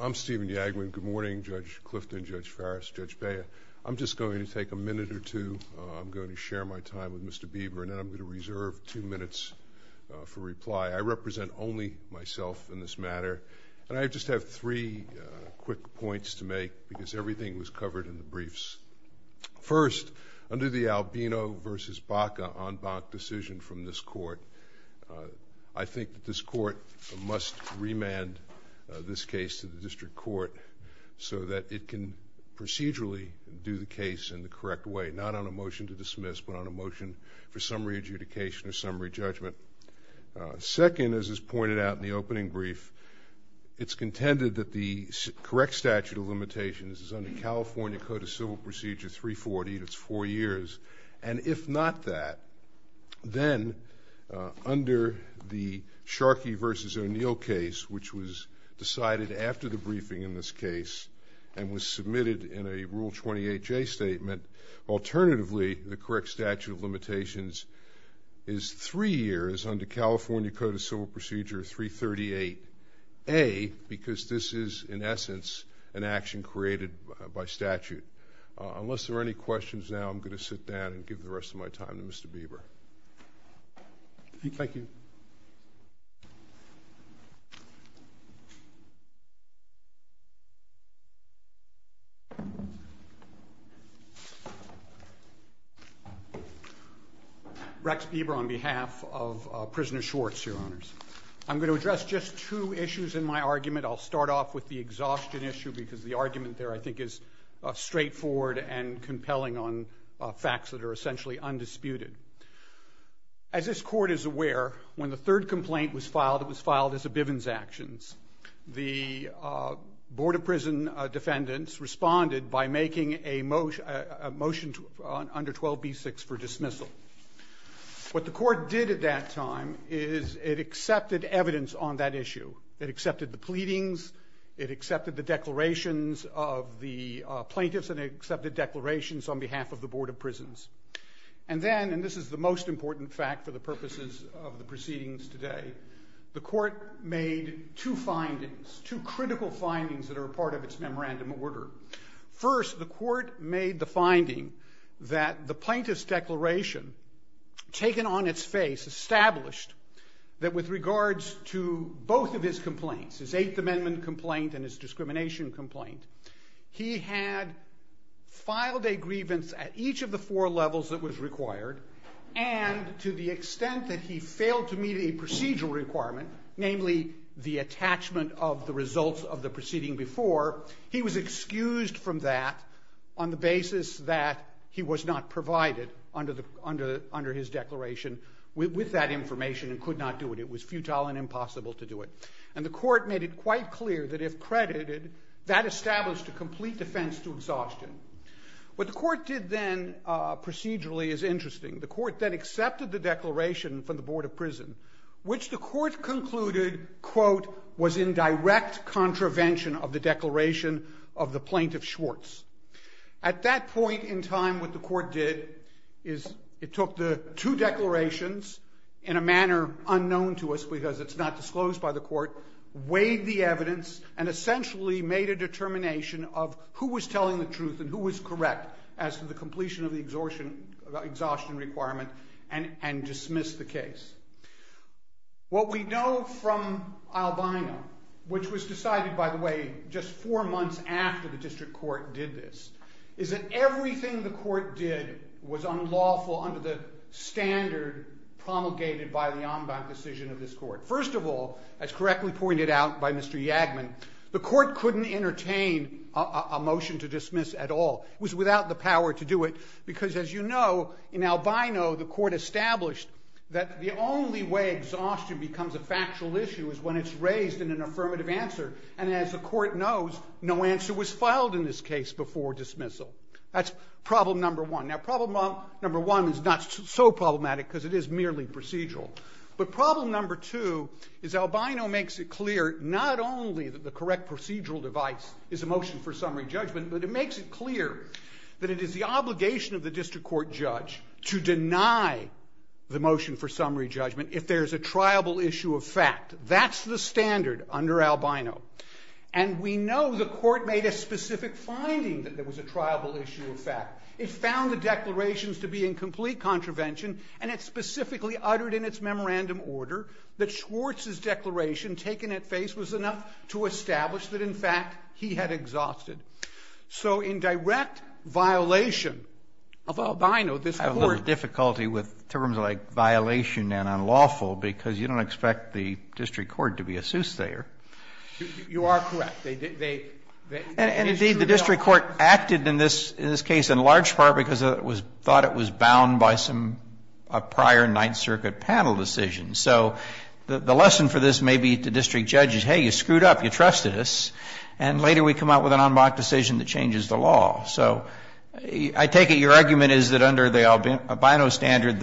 I'm Stephen Yagwin. Good morning, Judge Clifton, Judge Farris, Judge Bea. I'm just going to take a minute or two. I'm going to share my time with Mr. Bieber, and then I'm going to reserve two minutes for reply. I represent only myself in this matter, and I just have three quick points to make, because everything was covered in the briefs. First, under the Remand, this case to the District Court so that it can procedurally do the case in the correct way, not on a motion to dismiss, but on a motion for summary adjudication or summary judgment. Second, as is pointed out in the opening brief, it's contended that the correct statute of limitations is under California Code of Civil Procedure 340, and it's four years under the Sharkey v. O'Neill case, which was decided after the briefing in this case and was submitted in a Rule 28J statement. Alternatively, the correct statute of limitations is three years under California Code of Civil Procedure 338A, because this is, in essence, an action created by statute. Unless there are any questions now, I'm going to sit down and give the rest of my time to Mr. Bieber. Rex Bieber on behalf of Prisoner Schwartz, Your Honors. I'm going to address just two issues in my argument. I'll start off with the exhaustion issue, because the argument there I think is straightforward and compelling on facts that are essentially undisputed. As this Court is aware, when the third complaint was filed, it was filed as a Bivens actions. The Board of Prison Defendants responded by making a motion under 12b-6 for dismissal. What the Court did at that time is it accepted evidence on that issue. It accepted the pleadings. It accepted the declarations of the plaintiffs, and it accepted declarations on behalf of the Board of Prisons. This is the most important fact for the purposes of the proceedings today. The Court made two findings, two critical findings that are a part of its memorandum order. First, the Court made the finding that the plaintiff's declaration, taken on its complaints, his Eighth Amendment complaint and his discrimination complaint, he had filed a grievance at each of the four levels that was required, and to the extent that he failed to meet a procedural requirement, namely the attachment of the results of the proceeding before, he was excused from that on the basis that he was not provided under his declaration with that information and could not do it. It was futile and impossible to do it. And the Court made it quite clear that if credited, that established a complete defense to exhaustion. What the Court did then procedurally is interesting. The Court then accepted the declaration from the Board of Prison, which the Court concluded, quote, was in direct contravention of the declaration of the plaintiff, Schwartz. At that point in time, what the Court did is it took the two declarations in a manner unknown to us because it's not disclosed by the Court, weighed the evidence, and essentially made a determination of who was telling the truth and who was correct as to the completion of the exhaustion requirement and dismissed the case. What we know from Albina, which was decided, by the way, just four months after the District Court did this, is that everything the Court did was unlawful under the standard promulgated by the Ombud decision of this Court. First of all, as correctly pointed out by Mr. Yagman, the Court couldn't entertain a motion to dismiss at all. It was without the power to do it because, as you know, in Albino, the Court established that the only way exhaustion becomes a factual issue is when it's raised in an affirmative answer. And as the Court knows, no answer was filed in this case before dismissal. That's problem number one. Now, problem number one is not so problematic because it is merely procedural. But problem number two is Albino makes it clear not only that the correct procedural device is a motion for summary judgment, but it makes it clear that it is the obligation of the District Court judge to deny the motion for summary judgment if there is a triable issue of fact. That's the standard under Albino. And we know the Court made a specific finding that there was a triable issue of fact. It found the declarations to be in complete contravention, and it specifically uttered in its memorandum order that Schwartz's declaration taken at face was enough to establish that, in fact, he had exhausted. So in direct violation of Albino, this Court… And indeed, the District Court acted in this case in large part because it was thought it was bound by some prior Ninth Circuit panel decisions. So the lesson for this may be to District judges, hey, you screwed up, you trusted us, and later we come out with an en banc decision that changes the law. So I take it your argument is that under the Albino standard,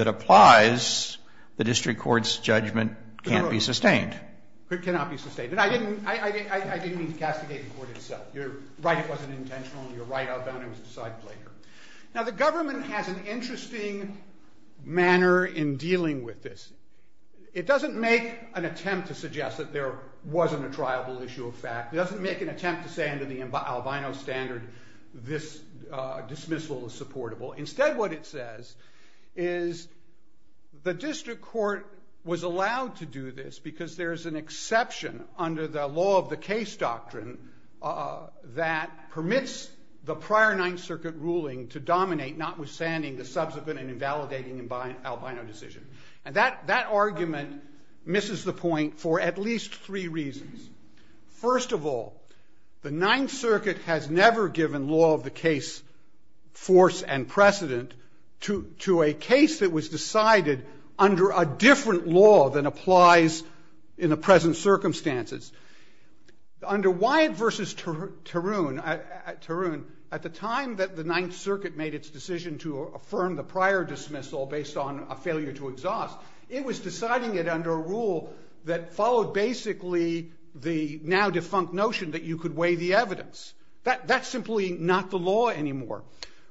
this dismissal is supportable. Instead, what it says is the District Court was allowed to do this because there is an exception under the law of the case doctrine that permits the prior Ninth Circuit ruling to dominate, notwithstanding the subsequent and invalidating Albino decision. And that argument misses the point for at least three reasons. First of all, the Ninth Circuit has never given law of the case force and precedent to a case that was decided under a different law than applies in the present circumstances. Under Wyatt v. Tarun, at the time that the Ninth Circuit made its decision to affirm the prior dismissal based on a failure to exhaust, it was deciding it under a rule that followed basically the now-defunct notion that you could weigh the evidence. That's simply not the law anymore.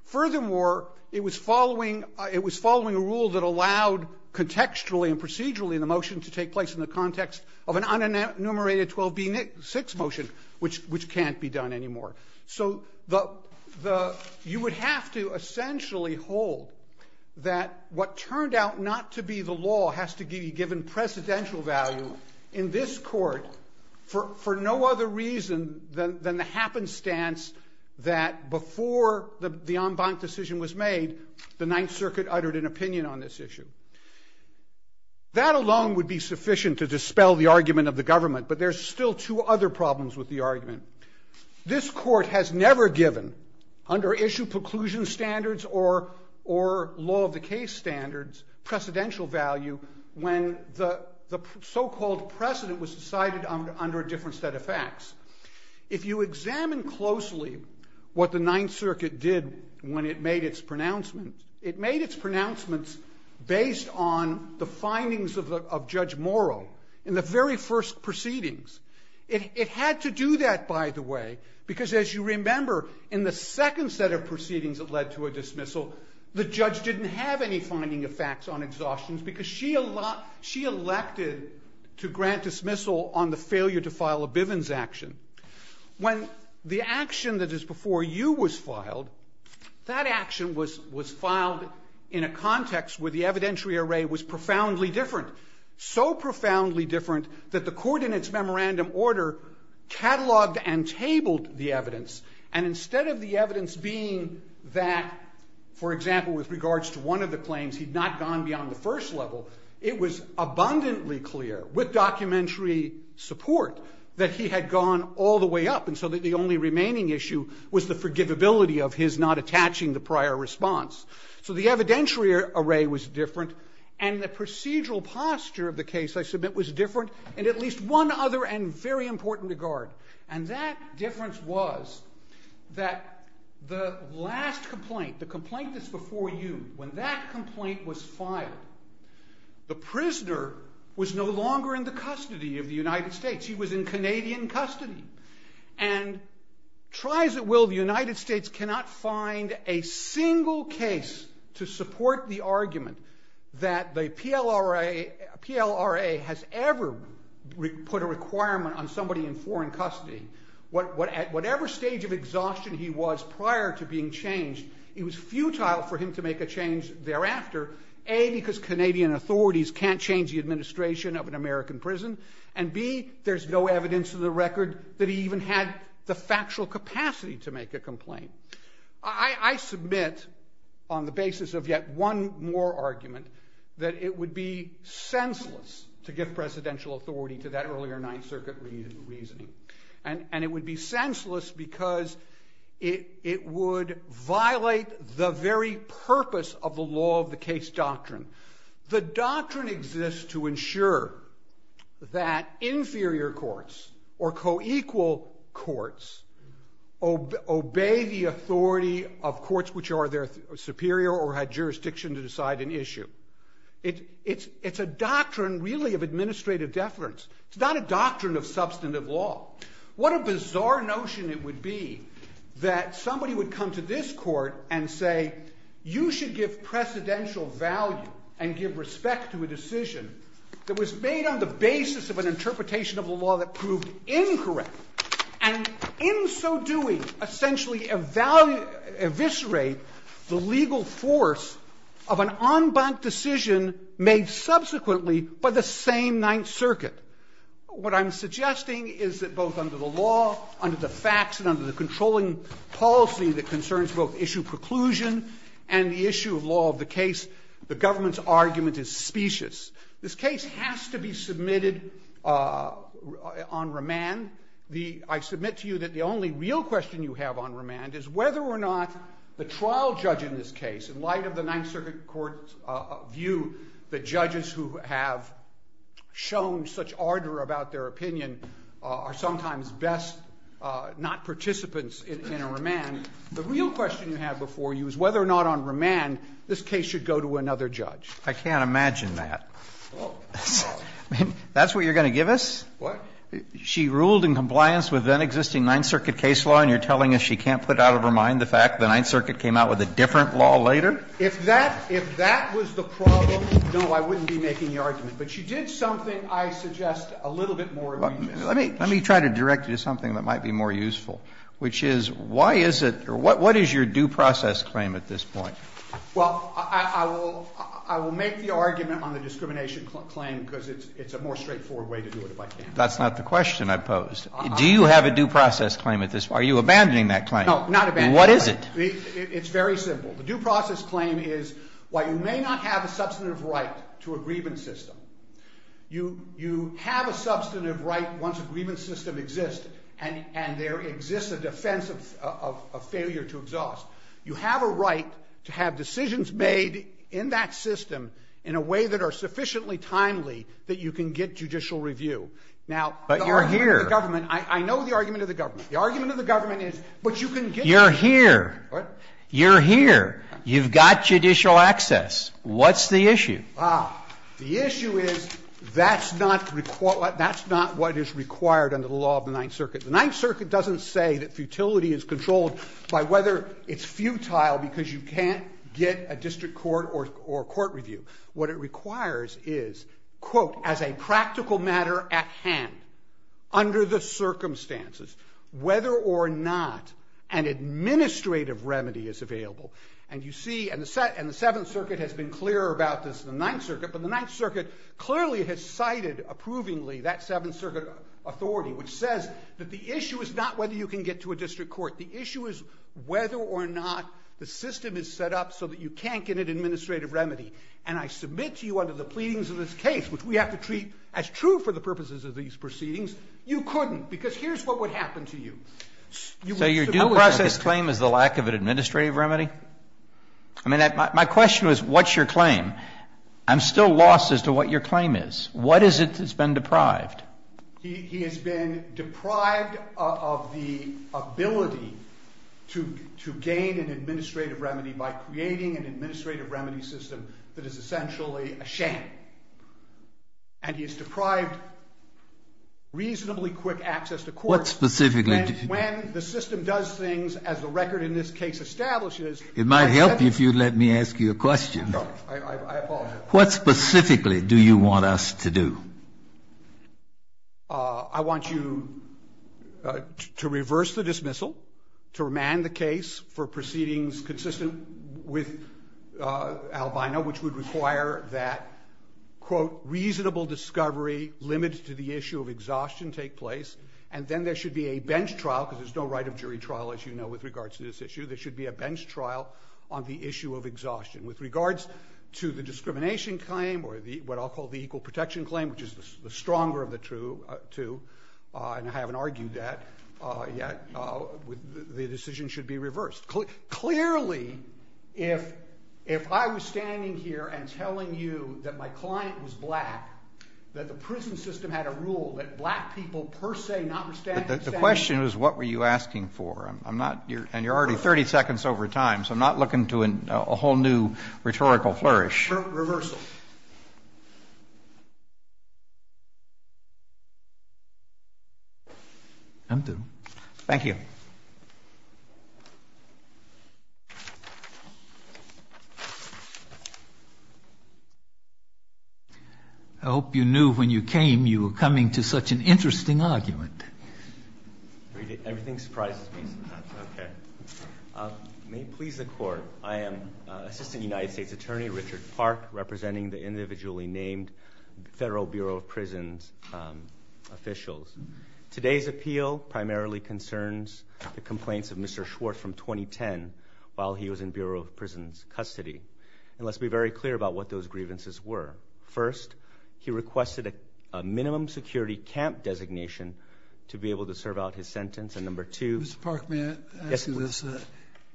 Furthermore, it was following a rule that allowed contextually and procedurally the motion to take place in the context of an unenumerated 12B6 motion, which can't be done anymore. So you would have to essentially hold that what turned out not to be the law has to be given precedential value in this Court for no other reason than the happenstance that before the en banc decision was made, the Ninth Circuit uttered an opinion on this issue. That alone would be sufficient to dispel the argument of the government, but there's still two other problems with the argument. This Court has never given, under issue preclusion standards or law of the case standards, precedential value when the so-called precedent was decided under a different set of facts. If you examine closely what the Ninth Circuit did when it made its pronouncements, it made its pronouncements based on the findings of Judge Morrow in the very first proceedings. It had to do that, by the way, because as you remember, in the second set of proceedings that led to a dismissal, the judge didn't have any finding of facts on exhaustions because she elected to grant dismissal on the failure to file a Bivens action. When the action that is before you was filed, that action was filed in a context where the evidentiary array was profoundly different, so profoundly different that the Court in its memorandum order cataloged and for example, with regards to one of the claims, he'd not gone beyond the first level. It was abundantly clear, with documentary support, that he had gone all the way up and so that the only remaining issue was the forgivability of his not attaching the prior response. So the evidentiary array was different and the procedural posture of the case, I submit, was different in at least one other and very important regard. And that difference was that the last complaint, the complaint that's before you, when that complaint was filed, the prisoner was no longer in the custody of the United States. He was in Canadian custody and try as it will, the United States cannot find a single case to support the argument that the PLRA has ever put a requirement on somebody in foreign custody. At whatever stage of exhaustion he was prior to being changed, it was futile for him to make a change thereafter. A, because Canadian authorities can't change the administration of an American prison and B, there's no evidence in the record that he even had the factual capacity to make a complaint. I submit, on the basis of yet one more argument, that it would be senseless to give presidential authority to that earlier Ninth Circuit reasoning. And it would be senseless because it would violate the very purpose of the law of the case doctrine. The doctrine exists to ensure that inferior courts or co-equal courts obey the authority of courts which are their superior or had jurisdiction to decide an issue. It's a doctrine really of administrative deference. It's not a doctrine of substantive law. What a bizarre notion it would be that somebody would come to this court and say, you should give precedential value and give respect to a decision that was made on the basis of an interpretation of a law that proved incorrect. And in so doing, essentially eviscerate the legal force of an en banc decision made subsequently by the same Ninth Circuit. What I'm suggesting is that both under the law, under the facts, and under the controlling policy that concerns both issue preclusion and the issue of law of the case, the government's argument is specious. This case has to be submitted on remand. The – I submit to you that the only real question you have on remand is whether or not the trial judge in this case, in light of the Ninth Circuit court's view that judges who have shown such ardor about their opinion, are sometimes best not participants in a remand. The real question you have before you is whether or not on remand this case should go to another judge. I can't imagine that. Well, well. I mean, that's what you're going to give us? What? She ruled in compliance with then-existing Ninth Circuit case law, and you're telling us she can't put out of her mind the fact the Ninth Circuit came out with a different law later? If that – if that was the problem, no, I wouldn't be making the argument. But she did something I suggest a little bit more reasonable. Let me try to direct you to something that might be more useful, which is why is it – or what is your due process claim at this point? Well, I will make the argument on the discrimination claim because it's a more straightforward way to do it, if I can. That's not the question I posed. Do you have a due process claim at this point? Are you abandoning that claim? No, not abandoning it. What is it? It's very simple. The due process claim is, while you may not have a substantive right to a grievance system, you have a substantive right once a grievance system exists and there exists a defense of failure to exhaust. You have a right to have decisions made in that system in a way that are sufficiently timely that you can get judicial review. Now, the argument of the government – But you're here. I know the argument of the government. The argument of the government is, but you can get – You're here. What? You've got judicial access. What's the issue? Ah, the issue is that's not what is required under the law of the Ninth Circuit. The Ninth Circuit doesn't say that futility is controlled by whether it's futile because you can't get a district court or a court review. What it requires is, quote, as a practical matter at hand, under the circumstances, whether or not an administrative remedy is available. And you see – and the Seventh Circuit has been clearer about this than the Ninth Circuit, but the Ninth Circuit clearly has cited approvingly that Seventh Circuit authority, which says that the issue is not whether you can get to a district court. The issue is whether or not the system is set up so that you can't get an administrative remedy. And I submit to you under the pleadings of this case, which we have to treat as true for the purposes of these proceedings, you couldn't, because here's what would happen to you. So your due process claim is the lack of an administrative remedy? I mean, my question was, what's your claim? I'm still lost as to what your claim is. What is it that's been deprived? He has been deprived of the ability to gain an administrative remedy by creating an administrative remedy system that is essentially a sham. And he has deprived reasonably quick access to court. What specifically? When the system does things as the record in this case establishes. It might help if you'd let me ask you a question. No, I apologize. What specifically do you want us to do? I want you to reverse the dismissal, to remand the case for proceedings consistent with Albina, which would require that, quote, reasonable discovery limited to the issue of exhaustion take place. And then there should be a bench trial, because there's no right of jury trial, as you know, with regards to this issue. There should be a bench trial on the issue of exhaustion. With regards to the discrimination claim, or what I'll call the equal protection claim, which is the stronger of the two, and I haven't argued that yet, the decision should be reversed. Clearly, if I was standing here and telling you that my client was black, that the prison system had a rule that black people per se not were standing here. The question is, what were you asking for? I'm not, and you're already 30 seconds over time, so I'm not looking to a whole new rhetorical flourish. Reversal. I'm through. Thank you. I hope you knew when you came, you were coming to such an interesting argument. Everything surprises me sometimes. Okay. May it please the Court, I am Assistant United States Attorney Richard Park, representing the individually named Federal Bureau of Prisons officials. Today's appeal primarily concerns the complaints of Mr. Schwartz from 2010 while he was in Bureau of Prisons custody, and let's be very clear about what those grievances were. First, he requested a minimum security camp designation to be able to serve out his sentence, and number two- Mr. Park, may I ask you this?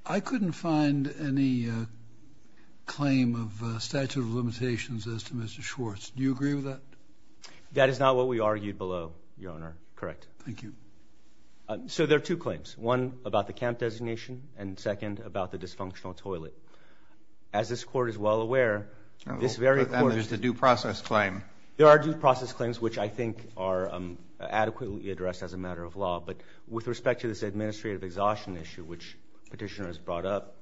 I couldn't find any claim of statute of limitations as to Mr. Schwartz. Do you agree with that? That is not what we argued below, Your Honor. Correct. Thank you. So there are two claims. One about the camp designation, and second about the dysfunctional toilet. As this Court is well aware, this very Court- And there's the due process claim. There are due process claims which I think are adequately addressed as a matter of law, but with respect to this administrative exhaustion issue which Petitioner has brought up,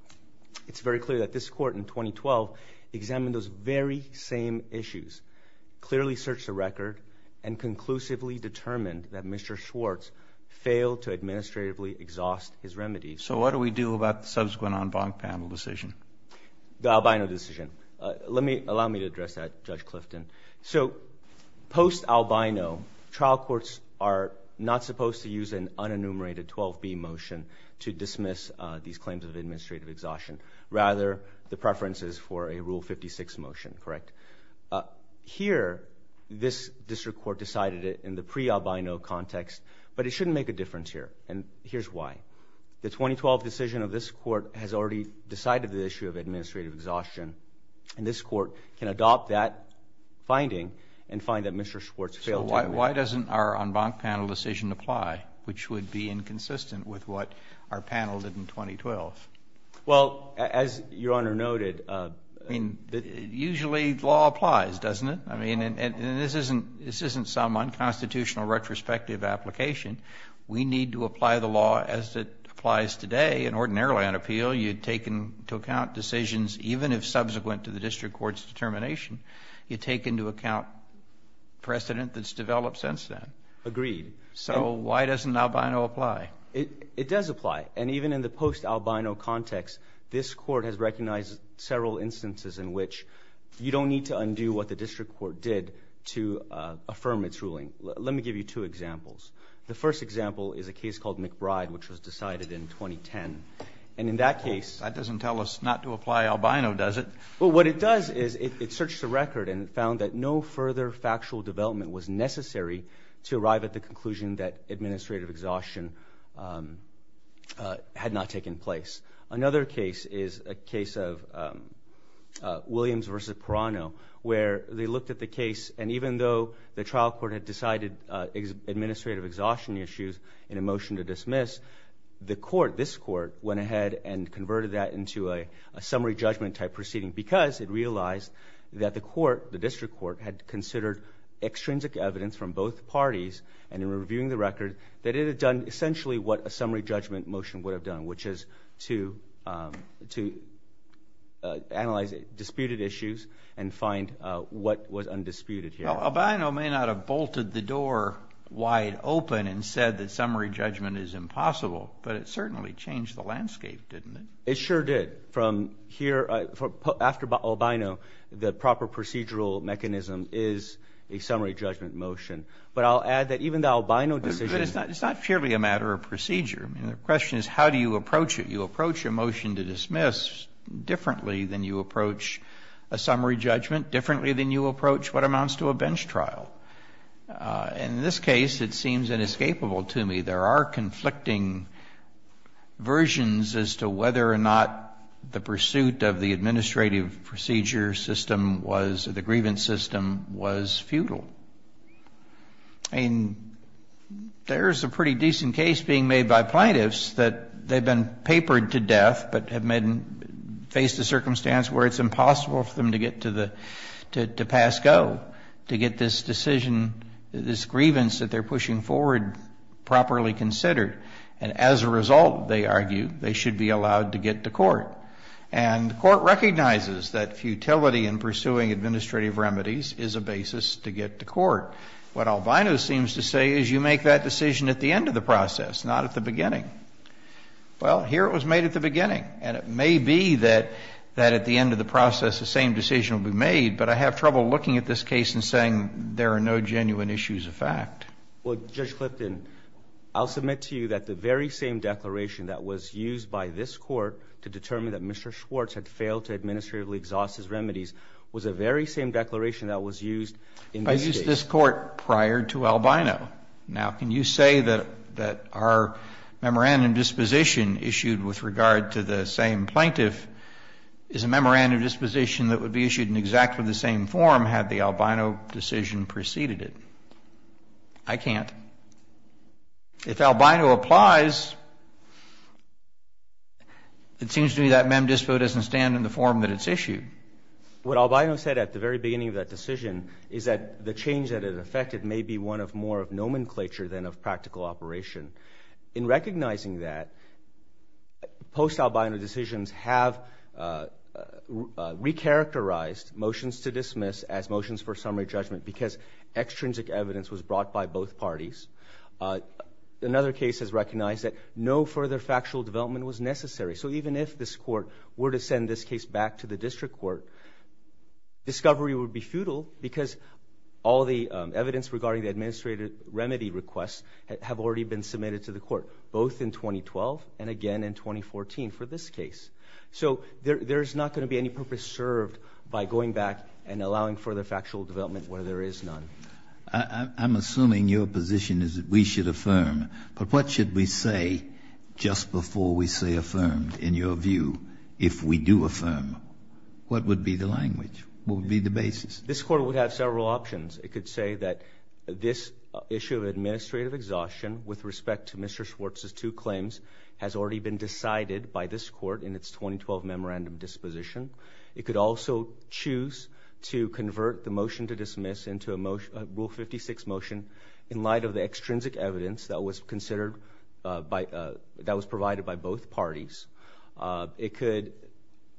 it's very clear that this Court in 2012 examined those very same issues. Clearly searched the record, and conclusively determined that Mr. Schwartz failed to administratively exhaust his remedies. So what do we do about the subsequent en banc panel decision? The Albino decision. Allow me to address that, Judge Clifton. So post-Albino, trial courts are not supposed to use an unenumerated 12B motion to dismiss these claims of administrative exhaustion. Rather, the preference is for a Rule 56 motion, correct? Here, this District Court decided it in the pre-Albino context, but it shouldn't make a difference here, and here's why. The 2012 decision of this Court has already decided the issue of administrative exhaustion, and this Court can adopt that finding and find that Mr. Schwartz failed to- So why doesn't our en banc panel decision apply, which would be inconsistent with what our panel did in 2012? Well, as Your Honor noted- Usually law applies, doesn't it? I mean, and this isn't some unconstitutional retrospective application. We need to apply the law as it applies today, and ordinarily on appeal, you'd take into account decisions even if subsequent to the District Court's determination. You take into account precedent that's developed since then. Agreed. So why doesn't Albino apply? It does apply, and even in the post-Albino context, this Court has recognized several instances in which you don't need to undo what the District Court did to affirm its ruling. Let me give you two examples. The first example is a case called McBride, which was decided in 2010, and in that case- That doesn't tell us not to apply Albino, does it? Well, what it does is it searched the record and found that no further factual development was necessary to arrive at the conclusion that administrative exhaustion had not taken place. Another case is a case of Williams v. Perano, where they looked at the case, and even though the trial court had decided administrative exhaustion issues in a motion to dismiss, the court, this court, went ahead and converted that into a summary judgment-type proceeding because it realized that the court, the District Court, had considered extrinsic evidence from both parties, and in reviewing the record, that it had done essentially what a summary judgment motion would have done, which is to analyze disputed issues and find what was undisputed here. Albino may not have bolted the door wide open and said that summary judgment is impossible, but it certainly changed the landscape, didn't it? It sure did. After Albino, the proper procedural mechanism is a summary judgment motion, but I'll add that even the Albino decision- It's not purely a matter of procedure. I mean, the question is how do you approach it? You approach a motion to dismiss differently than you approach a summary judgment differently than you approach what amounts to a bench trial. In this case, it seems inescapable to me. There are conflicting versions as to whether or not the pursuit of the administrative procedure system was, the grievance system, was futile. And there's a pretty decent case being made by plaintiffs that they've been papered to death, but have faced a circumstance where it's impossible for them to get to pass go, to get this decision, this grievance that they're pushing forward properly considered. And as a result, they argue, they should be allowed to get to court. And the court recognizes that futility in pursuing administrative remedies is a basis to get to court. What Albino seems to say is you make that decision at the end of the process, not at the beginning. Well, here it was made at the beginning, and it may be that at the end of the process the same decision will be made, but I have trouble looking at this case and saying there are no genuine issues of fact. Well, Judge Clifton, I'll submit to you that the very same declaration that was used by this Court to determine that Mr. Schwartz had failed to administratively exhaust his remedies was the very same declaration that was used in this case. I used this Court prior to Albino. Now, can you say that our memorandum of disposition issued with regard to the same plaintiff is a memorandum of disposition that would be issued in exactly the same form had the Albino decision preceded it? I can't. If Albino applies, it seems to me that mem dispo doesn't stand in the form that it's issued. What Albino said at the very beginning of that decision is that the change that it affected may be one of more of nomenclature than of practical operation. In recognizing that, post-Albino decisions have recharacterized motions to dismiss as motions for summary judgment because extrinsic evidence was brought by both parties. Another case has recognized that no further factual development was necessary. So even if this Court were to send this case back to the district court, discovery would be futile because all the evidence regarding the administrative remedy requests have already been submitted to the Court, both in 2012 and again in 2014 for this case. So there's not going to be any purpose served by going back and allowing further factual development where there is none. I'm assuming your position is that we should affirm. But what should we say just before we say affirmed, in your view, if we do affirm? What would be the language? What would be the basis? This Court would have several options. It could say that this issue of administrative exhaustion with respect to Mr. Schwartz's two claims has already been decided by this Court in its 2012 memorandum disposition. It could also choose to convert the motion to dismiss into a rule 56 motion in light of the extrinsic evidence that was provided by both parties. It could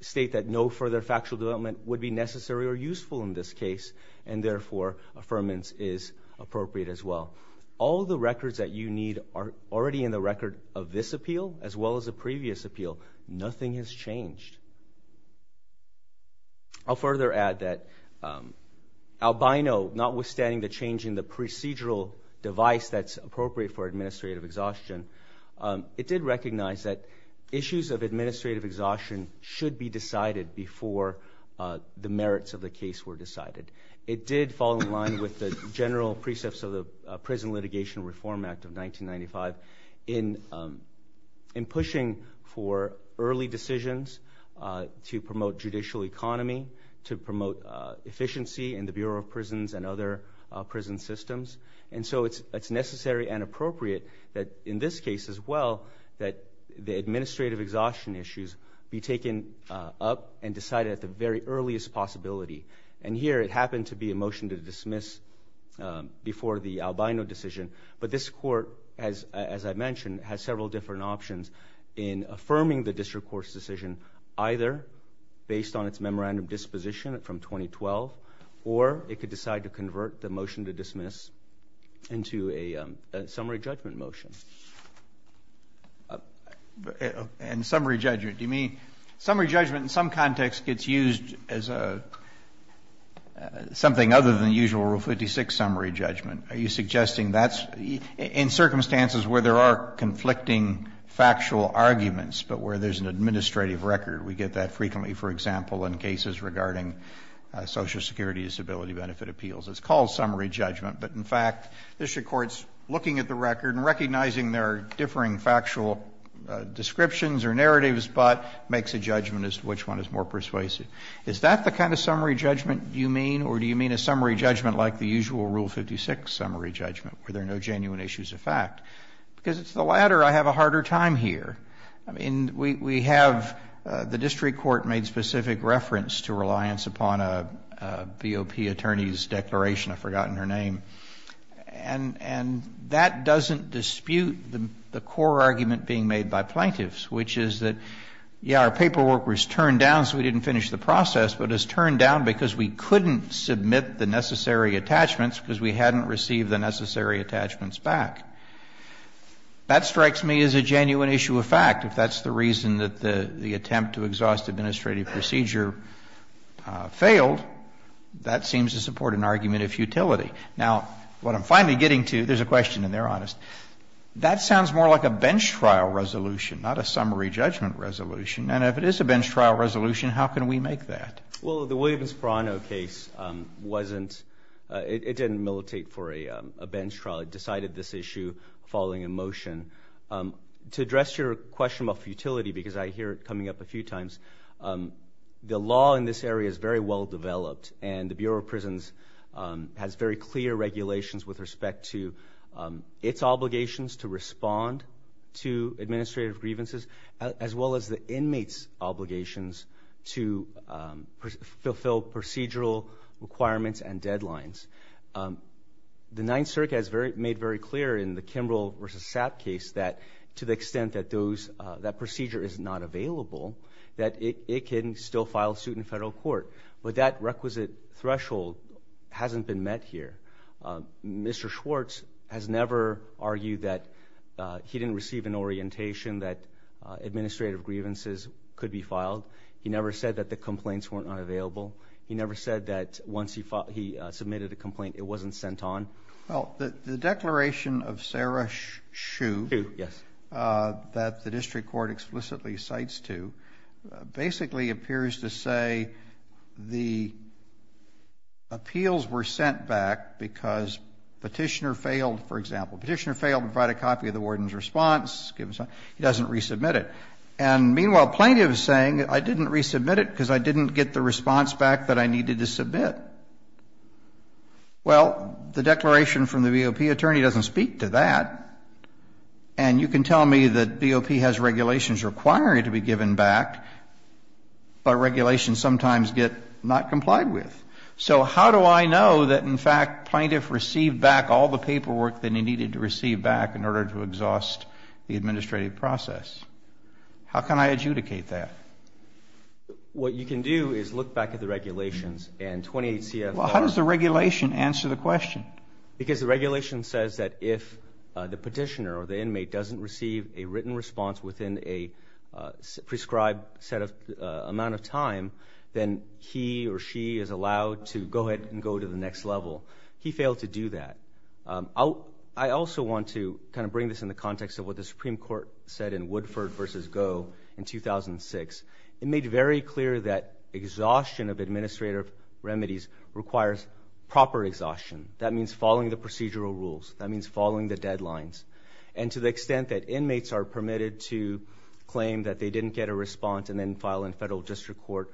state that no further factual development would be necessary or useful in this case and therefore affirmance is appropriate as well. All the records that you need are already in the record of this appeal as well as the previous appeal. Nothing has changed. I'll further add that albino, notwithstanding the change in the procedural device that's appropriate for administrative exhaustion, it did recognize that issues of administrative exhaustion should be decided before the merits of the case were decided. It did fall in line with the general precepts of the Prison Litigation Reform Act of 1995 in pushing for early decisions to promote judicial economy, to promote efficiency in the Bureau of Prisons and other prison systems. And so it's necessary and appropriate that in this case as well that the administrative exhaustion issues be taken up and decided at the very earliest possibility. And here it happened to be a motion to dismiss before the albino decision, but this Court has, as I mentioned, has several different options in affirming the district court's decision either based on its memorandum disposition from 2012 or it could decide to convert the motion to dismiss into a summary judgment motion. And summary judgment, do you mean summary judgment in some context gets used as something other than the usual Rule 56 summary judgment? Are you suggesting that's in circumstances where there are conflicting factual arguments, but where there's an administrative record? We get that frequently, for example, in cases regarding Social Security disability benefit appeals. It's called summary judgment, but in fact, district courts looking at the record and recognizing there are differing factual descriptions or narratives, but makes a judgment as to which one is more persuasive. Is that the kind of summary judgment you mean, or do you mean a summary judgment like the usual Rule 56 summary judgment where there are no genuine issues of fact? Because it's the latter. I have a harder time here. I mean, we have the district court made specific reference to reliance upon a BOP attorney's declaration. I've forgotten her name, and that doesn't dispute the core argument being made by plaintiffs, which is that, yeah, our paperwork was turned down so we didn't finish the process, but it was turned down because we couldn't submit the necessary attachments because we hadn't received the necessary attachments back. That strikes me as a genuine issue of fact. If that's the reason that the attempt to exhaust administrative procedure failed, that seems to support an argument of futility. Now, what I'm finally getting to, there's a question in there, honest. That sounds more like a bench trial resolution, not a summary judgment resolution. If it is a bench trial resolution, how can we make that? Well, the Williams-Ferrano case, it didn't militate for a bench trial. It decided this issue following a motion. To address your question about futility, because I hear it coming up a few times, the law in this area is very well developed, and the Bureau of Prisons has very clear regulations with respect to its obligations to respond to administrative grievances, as well as the inmates' obligations to fulfill procedural requirements and deadlines. The Ninth Circuit has made very clear in the Kimbrell v. Sapp case that to the extent that those, that procedure is not available, that it can still file suit in federal court. But that requisite threshold hasn't been met here. Mr. Schwartz has never argued that he didn't receive an orientation that administrative grievances could be filed. He never said that the complaints were not available. He never said that once he submitted a complaint, it wasn't sent on. Well, the declaration of Sarah Shue that the district court explicitly cites to basically appears to say the appeals were sent back because Petitioner failed, for example. Petitioner failed to provide a copy of the warden's response. He doesn't resubmit it. And meanwhile, plaintiff is saying I didn't resubmit it because I didn't get the response back that I needed to submit. Well, the declaration from the BOP attorney doesn't speak to that. And you can tell me that BOP has regulations required to be given back, but regulations sometimes get not complied with. So how do I know that, in fact, plaintiff received back all the paperwork that he needed to receive back in order to exhaust the administrative process? How can I adjudicate that? What you can do is look back at the regulations and 28 CFR. Well, how does the regulation answer the question? Because the regulation says that if the petitioner or the inmate doesn't receive a written response within a prescribed set of amount of time, then he or she is allowed to go ahead and go to the next level. He failed to do that. I also want to kind of bring this in the context of what the Supreme Court said in Woodford versus Go in 2006. It made very clear that exhaustion of administrative remedies requires proper exhaustion. That means following the procedural rules. That means following the deadlines. And to the extent that inmates are permitted to claim that they didn't get a response and then file in federal district court,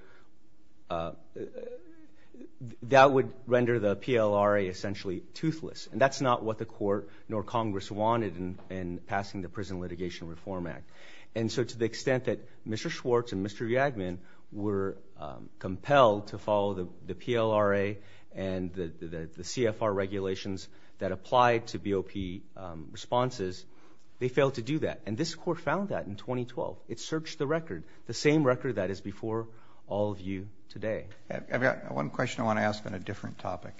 that would render the PLRA essentially toothless. And that's not what the court nor Congress wanted in passing the Prison Litigation Reform Act. And so to the extent that Mr. Schwartz and Mr. Yagmin were compelled to follow the PLRA and the CFR regulations that applied to BOP responses, they failed to do that. And this court found that in 2012. It searched the record, the same record that is before all of you today. I've got one question I want to ask on a different topic,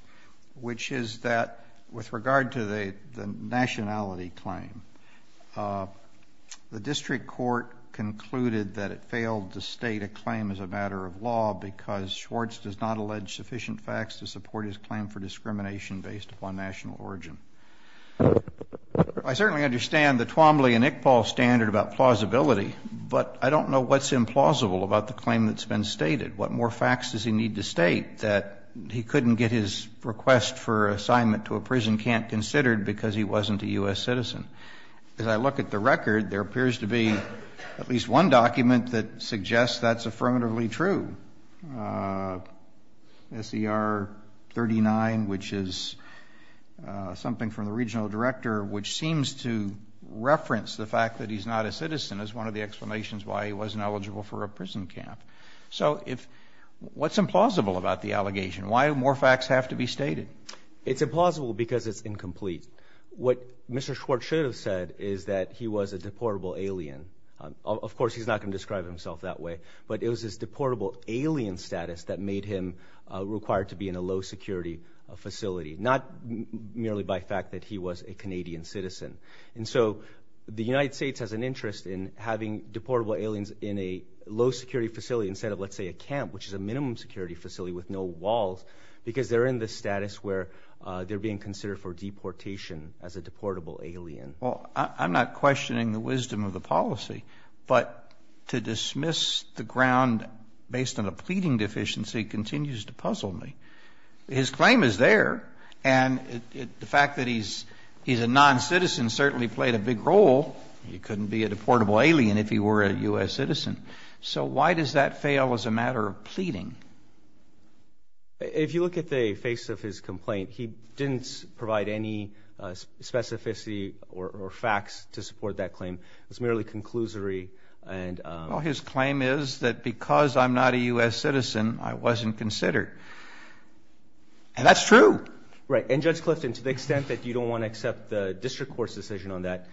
which is that with regard to the nationality claim, the district court concluded that it failed to state a claim as a matter of law because Schwartz does not allege sufficient facts to support his claim for discrimination based upon national origin. I certainly understand the Twombly and Iqbal standard about plausibility, but I don't know what's implausible about the claim that's been stated. What more facts does he need to state that he couldn't get his request for assignment to a prison camp considered because he wasn't a U.S. citizen? As I look at the record, there appears to be at least one document that suggests that's affirmatively true. SER 39, which is something from the regional director, which seems to reference the fact that he's not a citizen, is one of the explanations why he wasn't eligible for a prison camp. So what's implausible about the allegation? Why more facts have to be stated? It's implausible because it's incomplete. What Mr. Schwartz should have said is that he was a deportable alien. Of course, he's not going to describe himself that way, but it was his deportable alien status that made him required to be in a low security facility, not merely by fact that he was a Canadian citizen. And so the United States has an interest in having deportable aliens in a low security facility instead of, let's say, a camp, which is a minimum security facility with no walls because they're in the status where they're being considered for deportation as a deportable alien. Well, I'm not questioning the wisdom of the policy, but to dismiss the ground based on a pleading deficiency continues to puzzle me. His claim is there, and the fact that he's a non-citizen certainly played a big role. He couldn't be a deportable alien if he were a U.S. citizen. So why does that fail as a matter of pleading? If you look at the face of his complaint, he didn't provide any specificity or facts to support that claim. It's merely conclusory and... Well, his claim is that because I'm not a U.S. citizen, I wasn't considered, and that's true. Right. And Judge Clifton, to the extent that you don't want to accept the district court's decision on that,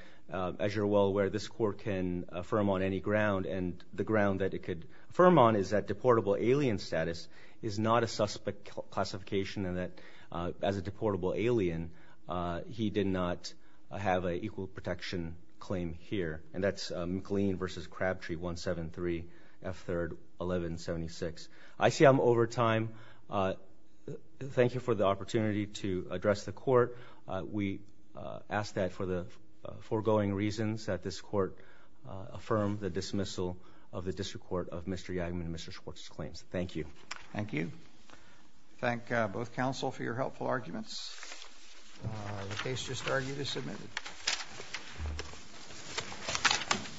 as you're well aware, this court can affirm on any ground, and the ground that it could affirm on is that deportable alien status is not a suspect classification and that as a deportable alien, he did not have an equal protection claim here, and that's McLean v. Crabtree, 173 F. 3rd, 1176. I see I'm over time. Thank you for the opportunity to address the court. We ask that for the foregoing reasons that this court affirm the dismissal of the district court of Mr. Yageman and Mr. Schwartz's claims. Thank you. Thank you. Thank both counsel for your helpful arguments. The case just argued is submitted.